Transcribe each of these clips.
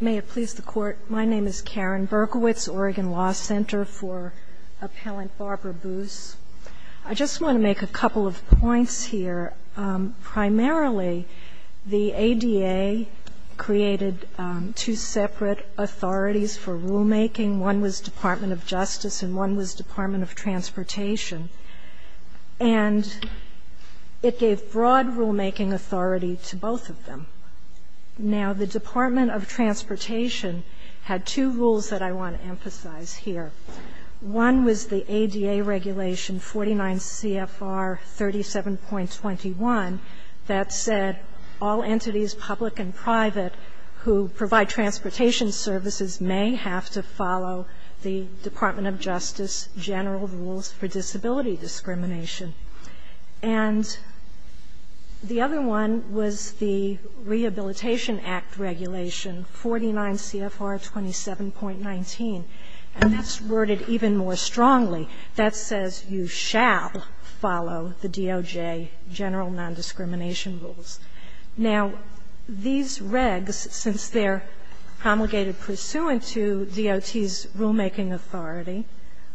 May it please the Court, my name is Karen Berkowitz, Oregon Law Center for Appellant Barbara Boose. I just want to make a couple of points here. Primarily, the ADA created two separate authorities for rulemaking. One was Department of Justice and one was Department of Transportation. And it gave broad rulemaking authority to both of them. Now, the Department of Transportation had two rules that I want to emphasize here. One was the ADA regulation 49 CFR 37.21 that said all entities, public and private, who provide transportation services may have to follow the Department of Justice general rules for disability discrimination. And the other one was the Rehabilitation Act regulation 49 CFR 27.19. And that's worded even more strongly. That says you shall follow the DOJ general nondiscrimination rules. Now, these regs, since they're promulgated pursuant to DOT's rulemaking authority,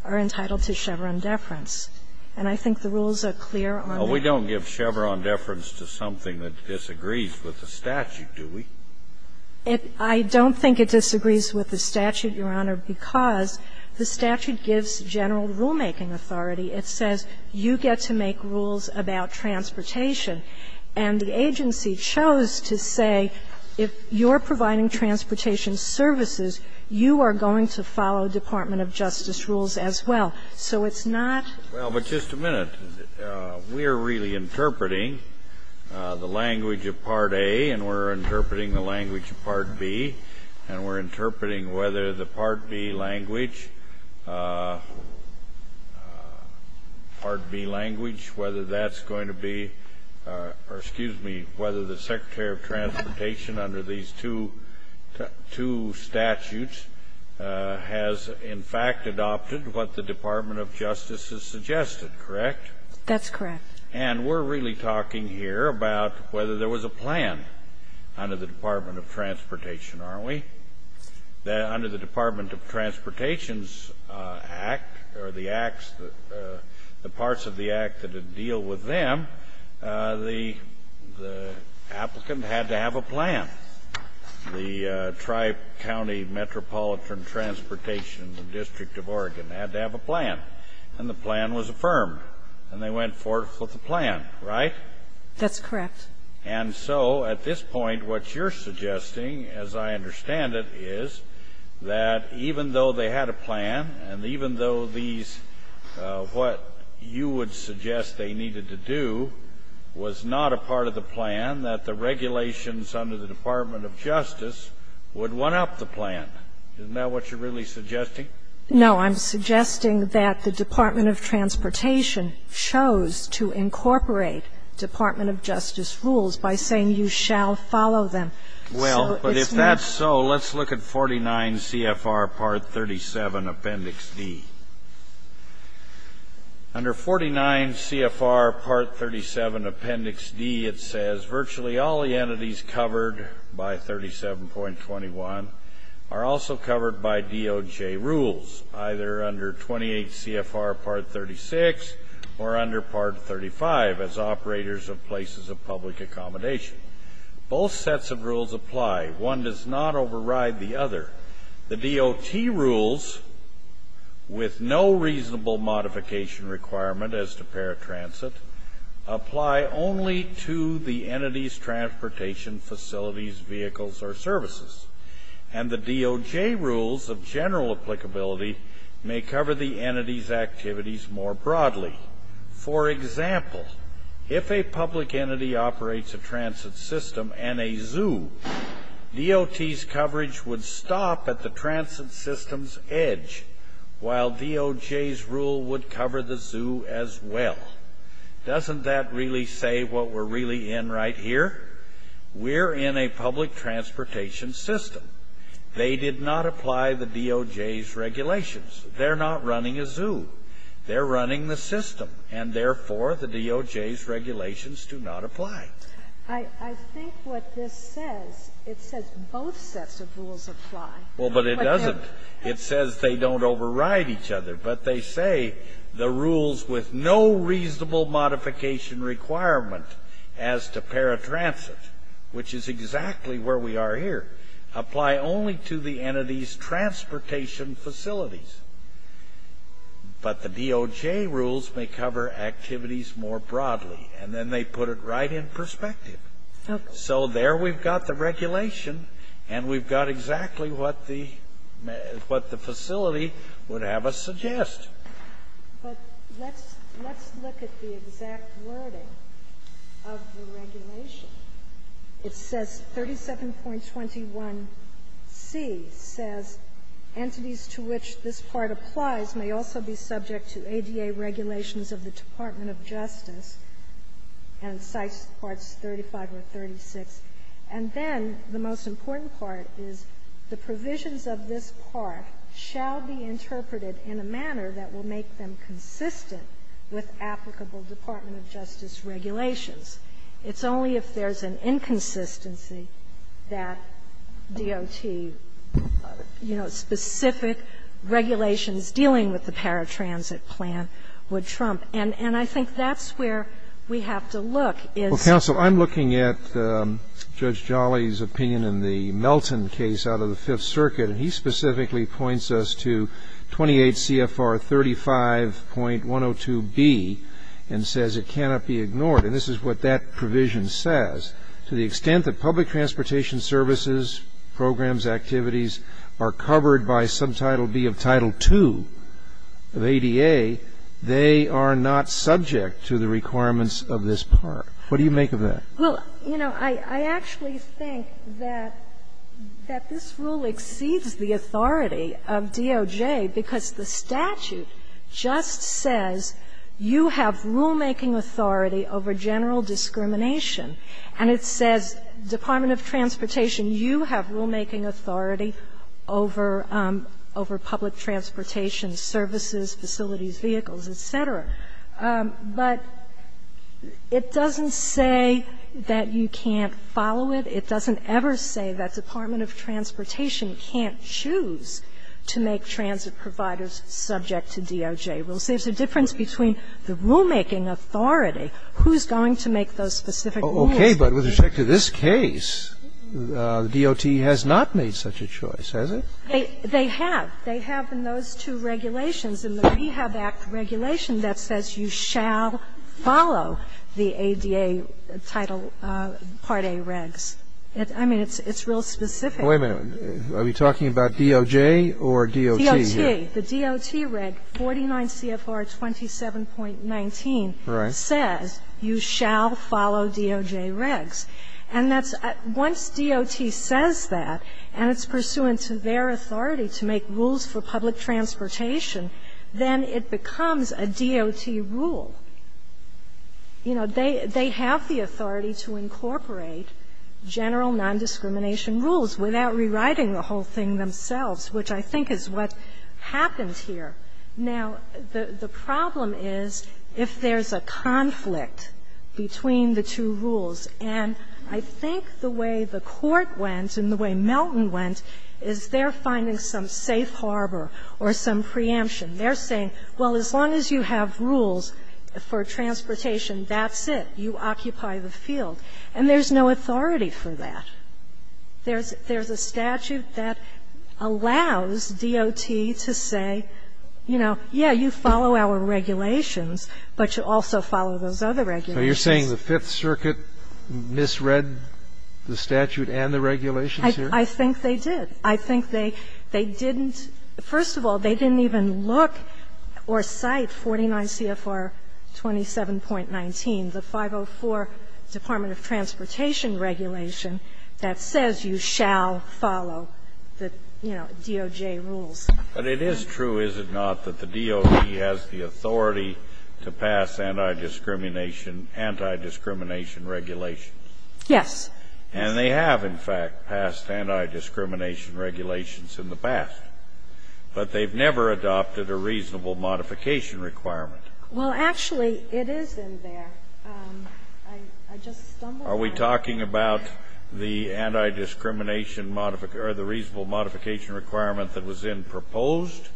are entitled to Chevron deference. And I think the rules are clear on that. Scalia. Well, we don't give Chevron deference to something that disagrees with the statute, do we? Berkowitz. I don't think it disagrees with the statute, Your Honor, because the statute gives general rulemaking authority. It says you get to make rules about transportation. And the agency chose to say if you're providing transportation services, you are going to follow Department of Justice rules as well. So it's not Well, but just a minute. We are really interpreting the language of Part A, and we're interpreting the language of Part B, and we're interpreting whether the Part B language, Part B language, whether that's going to be, or excuse me, whether the Secretary of Transportation under these two statutes has, in fact, adopted what the Department of Justice has suggested, correct? That's correct. And we're really talking here about whether there was a plan under the Department of Transportation, aren't we? Under the Department of Transportation's act, or the acts, the parts of the act that deal with them, the applicant had to have a plan. The Tri-County Metropolitan Transportation District of Oregon had to have a plan, and the plan was affirmed. And they went forth with a plan, right? That's correct. And so at this point, what you're suggesting, as I understand it, is that even though they had a plan, and even though these, what you would suggest they needed to do, was not a part of the plan, that the regulations under the Department of Justice would one-up the plan. Isn't that what you're really suggesting? No. I'm suggesting that the Department of Transportation chose to incorporate Department of Justice rules by saying you shall follow them. Well, but if that's so, let's look at 49 C.F.R. Part 37, Appendix D. Under 49 C.F.R. Part 37, Appendix D, it says, Virtually all the entities covered by 37.21 are also covered by DOJ rules, either under 28 C.F.R. Part 36 or under Part 35, as operators of places of public accommodation. Both sets of rules apply. One does not override the other. The DOT rules, with no reasonable modification requirement as to paratransit, apply only to the entity's transportation facilities, vehicles, or services. And the DOJ rules of general applicability may cover the entity's activities more broadly. For example, if a public entity operates a transit system and a zoo, DOT's coverage would stop at the transit system's edge, while DOJ's rule would cover the zoo as well. Doesn't that really say what we're really in right here? We're in a public transportation system. They did not apply the DOJ's regulations. They're not running a zoo. They're running the system, and therefore the DOJ's regulations do not apply. I think what this says, it says both sets of rules apply. Well, but it doesn't. It says they don't override each other, but they say the rules with no reasonable modification requirement as to paratransit, which is exactly where we are here, apply only to the entity's transportation facilities. But the DOJ rules may cover activities more broadly, and then they put it right in perspective. So there we've got the regulation, and we've got exactly what the facility would have us suggest. But let's look at the exact wording of the regulation. It says 37.21c says, Entities to which this part applies may also be subject to ADA regulations of the Department of Justice, and cites Parts 35 or 36. And then the most important part is the provisions of this part shall be interpreted in a manner that will make them consistent with applicable Department of Justice regulations. It's only if there's an inconsistency that DOT, you know, specific regulations dealing with the paratransit plan would trump. And I think that's where we have to look, is to look at. Well, counsel, I'm looking at Judge Jolly's opinion in the Melton case out of the Fifth Circuit, and he specifically points us to 28 CFR 35.102b and says it cannot be ignored. And this is what that provision says. To the extent that public transportation services, programs, activities are covered by Subtitle B of Title II of ADA, they are not subject to the requirements of this part. What do you make of that? Well, you know, I actually think that this rule exceeds the authority of DOJ because the statute just says you have rulemaking authority over general discrimination. And it says, Department of Transportation, you have rulemaking authority over public transportation services, facilities, vehicles, et cetera. But it doesn't say that you can't follow it. It doesn't ever say that Department of Transportation can't choose to make transit providers subject to DOJ rules. There's a difference between the rulemaking authority, who's going to make those specific rules. Okay, but with respect to this case, DOT has not made such a choice, has it? They have. They have in those two regulations. In the Prehab Act regulation, that says you shall follow the ADA Title Part A regs. I mean, it's real specific. Wait a minute. Are we talking about DOJ or DOT here? DOJ, the DOT reg 49 CFR 27.19 says you shall follow DOJ regs. And that's at once DOT says that, and it's pursuant to their authority to make rules for public transportation, then it becomes a DOT rule. You know, they have the authority to incorporate general non-discrimination rules without rewriting the whole thing themselves, which I think is what happened here. Now, the problem is if there's a conflict between the two rules, and I think the way the Court went and the way Melton went is they're finding some safe harbor or some preemption. They're saying, well, as long as you have rules for transportation, that's it. You occupy the field. And there's no authority for that. There's a statute that allows DOT to say, you know, yeah, you follow our regulations, but you also follow those other regulations. So you're saying the Fifth Circuit misread the statute and the regulations here? I think they did. I think they didn't – first of all, they didn't even look or cite 49 CFR 27.19, the 504 Department of Transportation Regulation, that says you shall follow the DOJ rules. But it is true, is it not, that the DOJ has the authority to pass anti-discrimination regulations? Yes. And they have, in fact, passed anti-discrimination regulations in the past. But they've never adopted a reasonable modification requirement. Well, actually, it is in there. I just stumbled on it. Are we talking about the anti-discrimination modification – or the reasonable modification requirement that was in proposed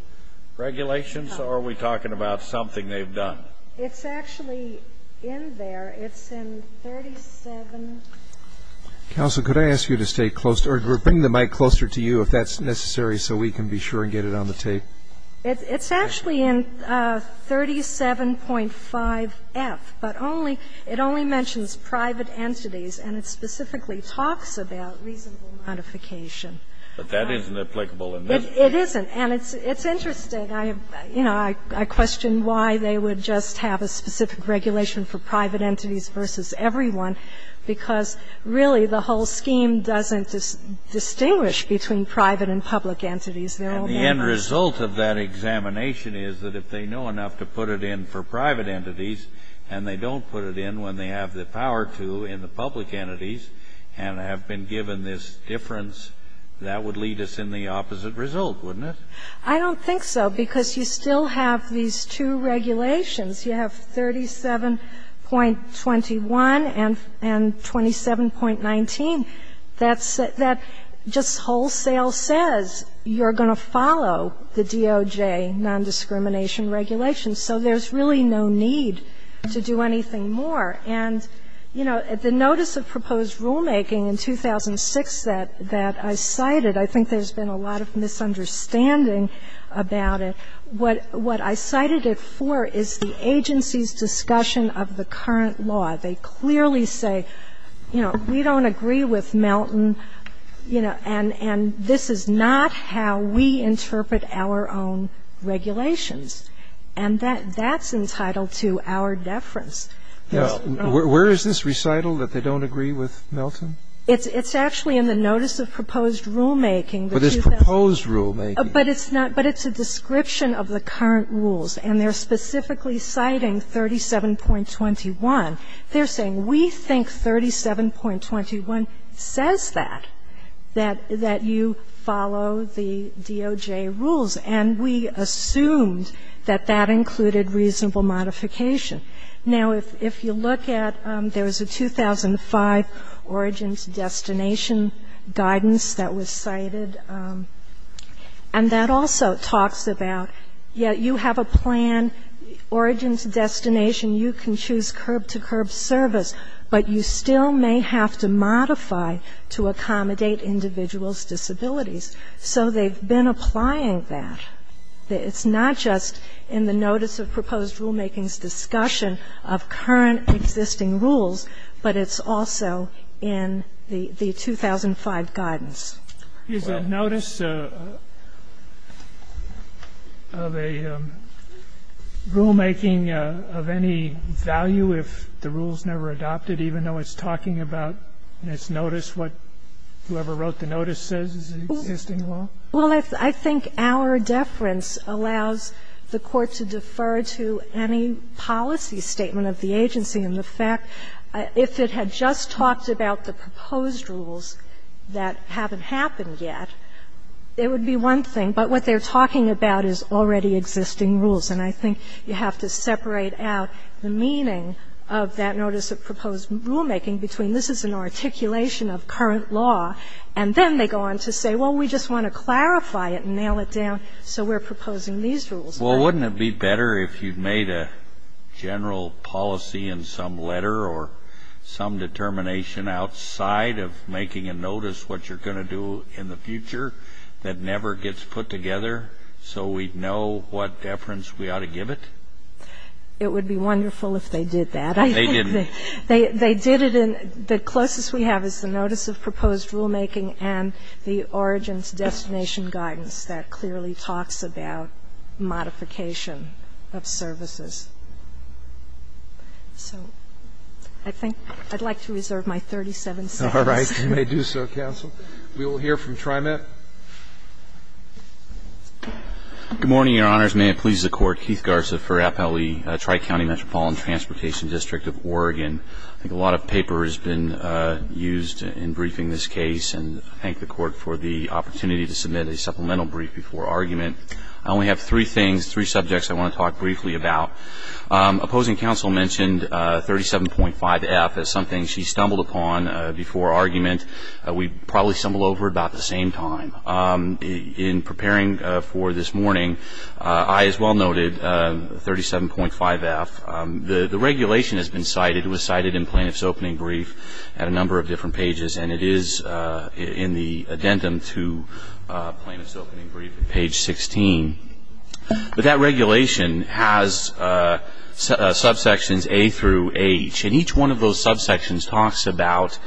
regulations? Or are we talking about something they've done? It's actually in there. It's in 37. Counsel, could I ask you to stay close – or bring the mic closer to you, if that's necessary, so we can be sure and get it on the tape? It's actually in 37.5F, but only – it only mentions private entities, and it specifically talks about reasonable modification. But that isn't applicable in this case. It isn't. And it's interesting. I have – you know, I question why they would just have a specific regulation for private entities versus everyone, because, really, the whole scheme doesn't distinguish between private and public entities. And the end result of that examination is that if they know enough to put it in for private entities, and they don't put it in when they have the power to in the public entities, and have been given this difference, that would lead us in the opposite result, wouldn't it? I don't think so, because you still have these two regulations. You have 37.21 and 27.19. That's – that just wholesale says you're going to follow the DOJ nondiscrimination regulations. So there's really no need to do anything more. And, you know, the notice of proposed rulemaking in 2006 that I cited, I think there's been a lot of misunderstanding about it. What I cited it for is the agency's discussion of the current law. They clearly say, you know, we don't agree with Melton, you know, and this is not how we interpret our own regulations. And that's entitled to our deference. There's no – Where is this recital that they don't agree with Melton? It's actually in the notice of proposed rulemaking. But it's proposed rulemaking. But it's not – but it's a description of the current rules. And they're specifically citing 37.21. They're saying, we think 37.21 says that, that you follow the DOJ rules. And we assumed that that included reasonable modification. Now, if you look at – there was a 2005 origins destination guidance that was cited. And that also talks about, yes, you have a plan, origins destination, you can choose curb-to-curb service, but you still may have to modify to accommodate individuals' disabilities. So they've been applying that. It's not just in the notice of proposed rulemaking's discussion of current existing rules, but it's also in the 2005 guidance. Is the notice of a rulemaking of any value if the rule's never adopted, even though it's talking about this notice, what whoever wrote the notice says is the existing law? Well, I think our deference allows the Court to defer to any policy statement of the agency in the fact, if it had just talked about the proposed rules that haven't happened yet, it would be one thing. But what they're talking about is already existing rules. And I think you have to separate out the meaning of that notice of proposed rulemaking between this is an articulation of current law, and then they go on to say, well, we just want to clarify it and nail it down, so we're proposing these rules. Well, wouldn't it be better if you made a general policy in some letter or some determination outside of making a notice what you're going to do in the future that never gets put together, so we'd know what deference we ought to give it? It would be wonderful if they did that. They didn't. The closest we have is the notice of proposed rulemaking and the origins destination guidance that clearly talks about modification of services. So I think I'd like to reserve my 37 seconds. Roberts. You may do so, counsel. We will hear from TriMet. Good morning, Your Honors. May it please the Court. Keith Garza for Appellee Tri-County Metropolitan Transportation District of Oregon. I think a lot of paper has been used in briefing this case, and I thank the Court for the opportunity to submit a supplemental brief before argument. I only have three things, three subjects I want to talk briefly about. Opposing counsel mentioned 37.5F as something she stumbled upon before argument. We probably stumbled over it about the same time. In preparing for this morning, I as well noted 37.5F. The regulation has been cited, it was cited in plaintiff's opening brief at a number of different pages, and it is in the addendum to plaintiff's opening brief at page 16. But that regulation has subsections A through H, and each one of those subsections talks about,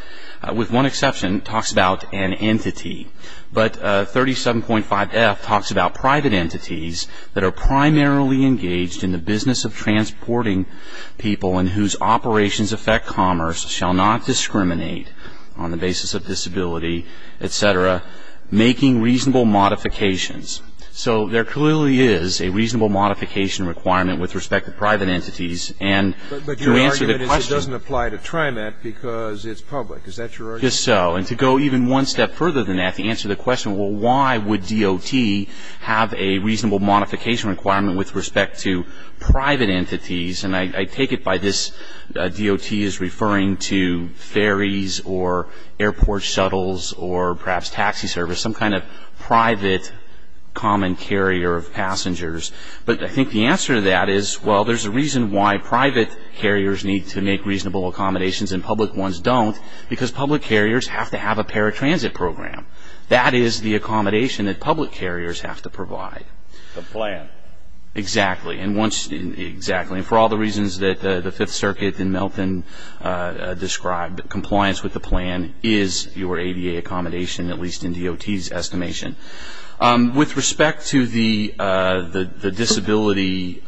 with one exception, talks about an entity. But 37.5F talks about private entities that are primarily engaged in the business of transporting people and whose operations affect commerce, shall not discriminate on the basis of disability, et cetera, making reasonable modifications. So there clearly is a reasonable modification requirement with respect to private entities. And to answer the question But your argument is it doesn't apply to TRIMET because it's public. Is that your argument? Yes, sir. And to go even one step further than that, to answer the question, well, why would DOT have a reasonable modification requirement with respect to private entities? And I take it by this, DOT is referring to ferries or airport shuttles or perhaps taxi service, some kind of private common carrier of passengers. But I think the answer to that is, well, there's a reason why private carriers need to make reasonable accommodations and public ones don't, because public carriers have to have a paratransit program. That is the accommodation that public carriers have to provide. The plan. Exactly. And for all the reasons that the Fifth Circuit and Melton described, compliance with the DOT's estimation. With respect to the disability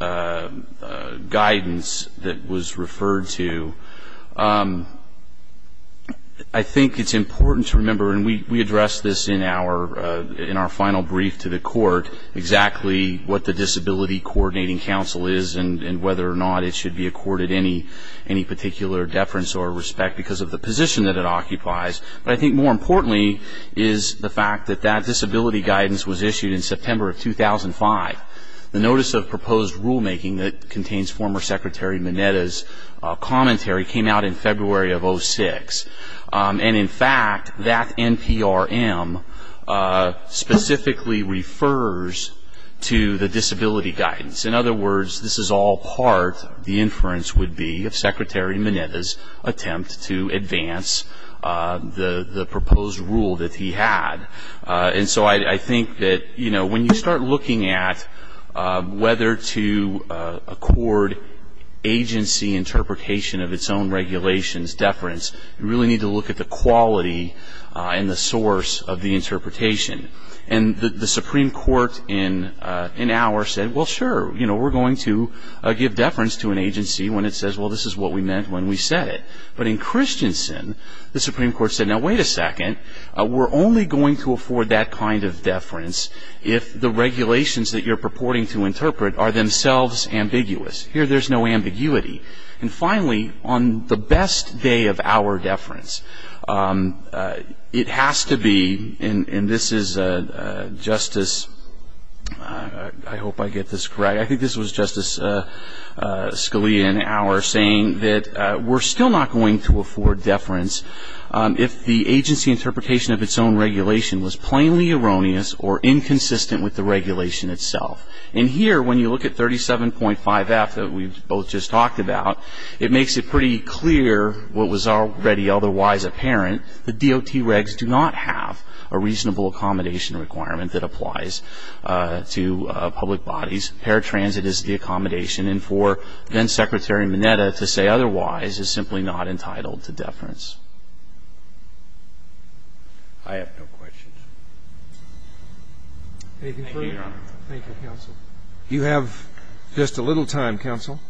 guidance that was referred to, I think it's important to remember, and we addressed this in our final brief to the court, exactly what the Disability Coordinating Council is and whether or not it should be accorded any particular deference or respect because of the position that it occupies. But I think more importantly is the fact that that disability guidance was issued in September of 2005. The notice of proposed rulemaking that contains former Secretary Mineta's commentary came out in February of 06. And in fact, that NPRM specifically refers to the disability guidance. In other words, this is all part, the inference would be, of Secretary Mineta's attempt to the proposed rule that he had. And so I think that, you know, when you start looking at whether to accord agency interpretation of its own regulations deference, you really need to look at the quality and the source of the interpretation. And the Supreme Court in our said, well sure, you know, we're going to give deference to an agency when it says, well this is what we meant when we said it. But in Christensen, the Supreme Court said, now wait a second, we're only going to afford that kind of deference if the regulations that you're purporting to interpret are themselves ambiguous. Here there's no ambiguity. And finally, on the best day of our deference, it has to be, and this is Justice, I hope I get this correct, I think this was Justice Scalia in our saying that we're still not going to afford deference if the agency interpretation of its own regulation was plainly erroneous or inconsistent with the regulation itself. And here when you look at 37.5F that we both just talked about, it makes it pretty clear what was already otherwise apparent, the DOT regs do not have a reasonable accommodation requirement that applies to public bodies. Paratransit is the accommodation and for then Secretary Mineta to say otherwise is simply not entitled to deference. I have no questions. Thank you, Your Honor. Thank you, counsel. You have just a little time, counsel.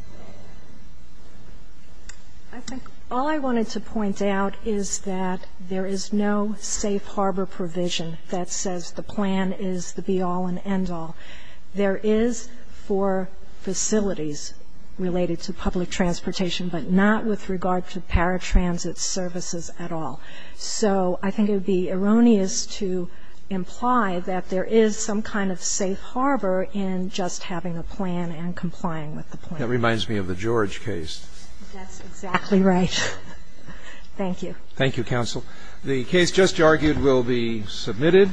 I think all I wanted to point out is that there is no safe harbor provision that says the plan is the be-all and end-all. There is for facilities related to public transportation, but not with regard to paratransit services at all. So I think it would be erroneous to imply that there is some kind of safe harbor in just having a plan and complying with the plan. That reminds me of the George case. That's exactly right. Thank you. Thank you, counsel. The case just argued will be submitted.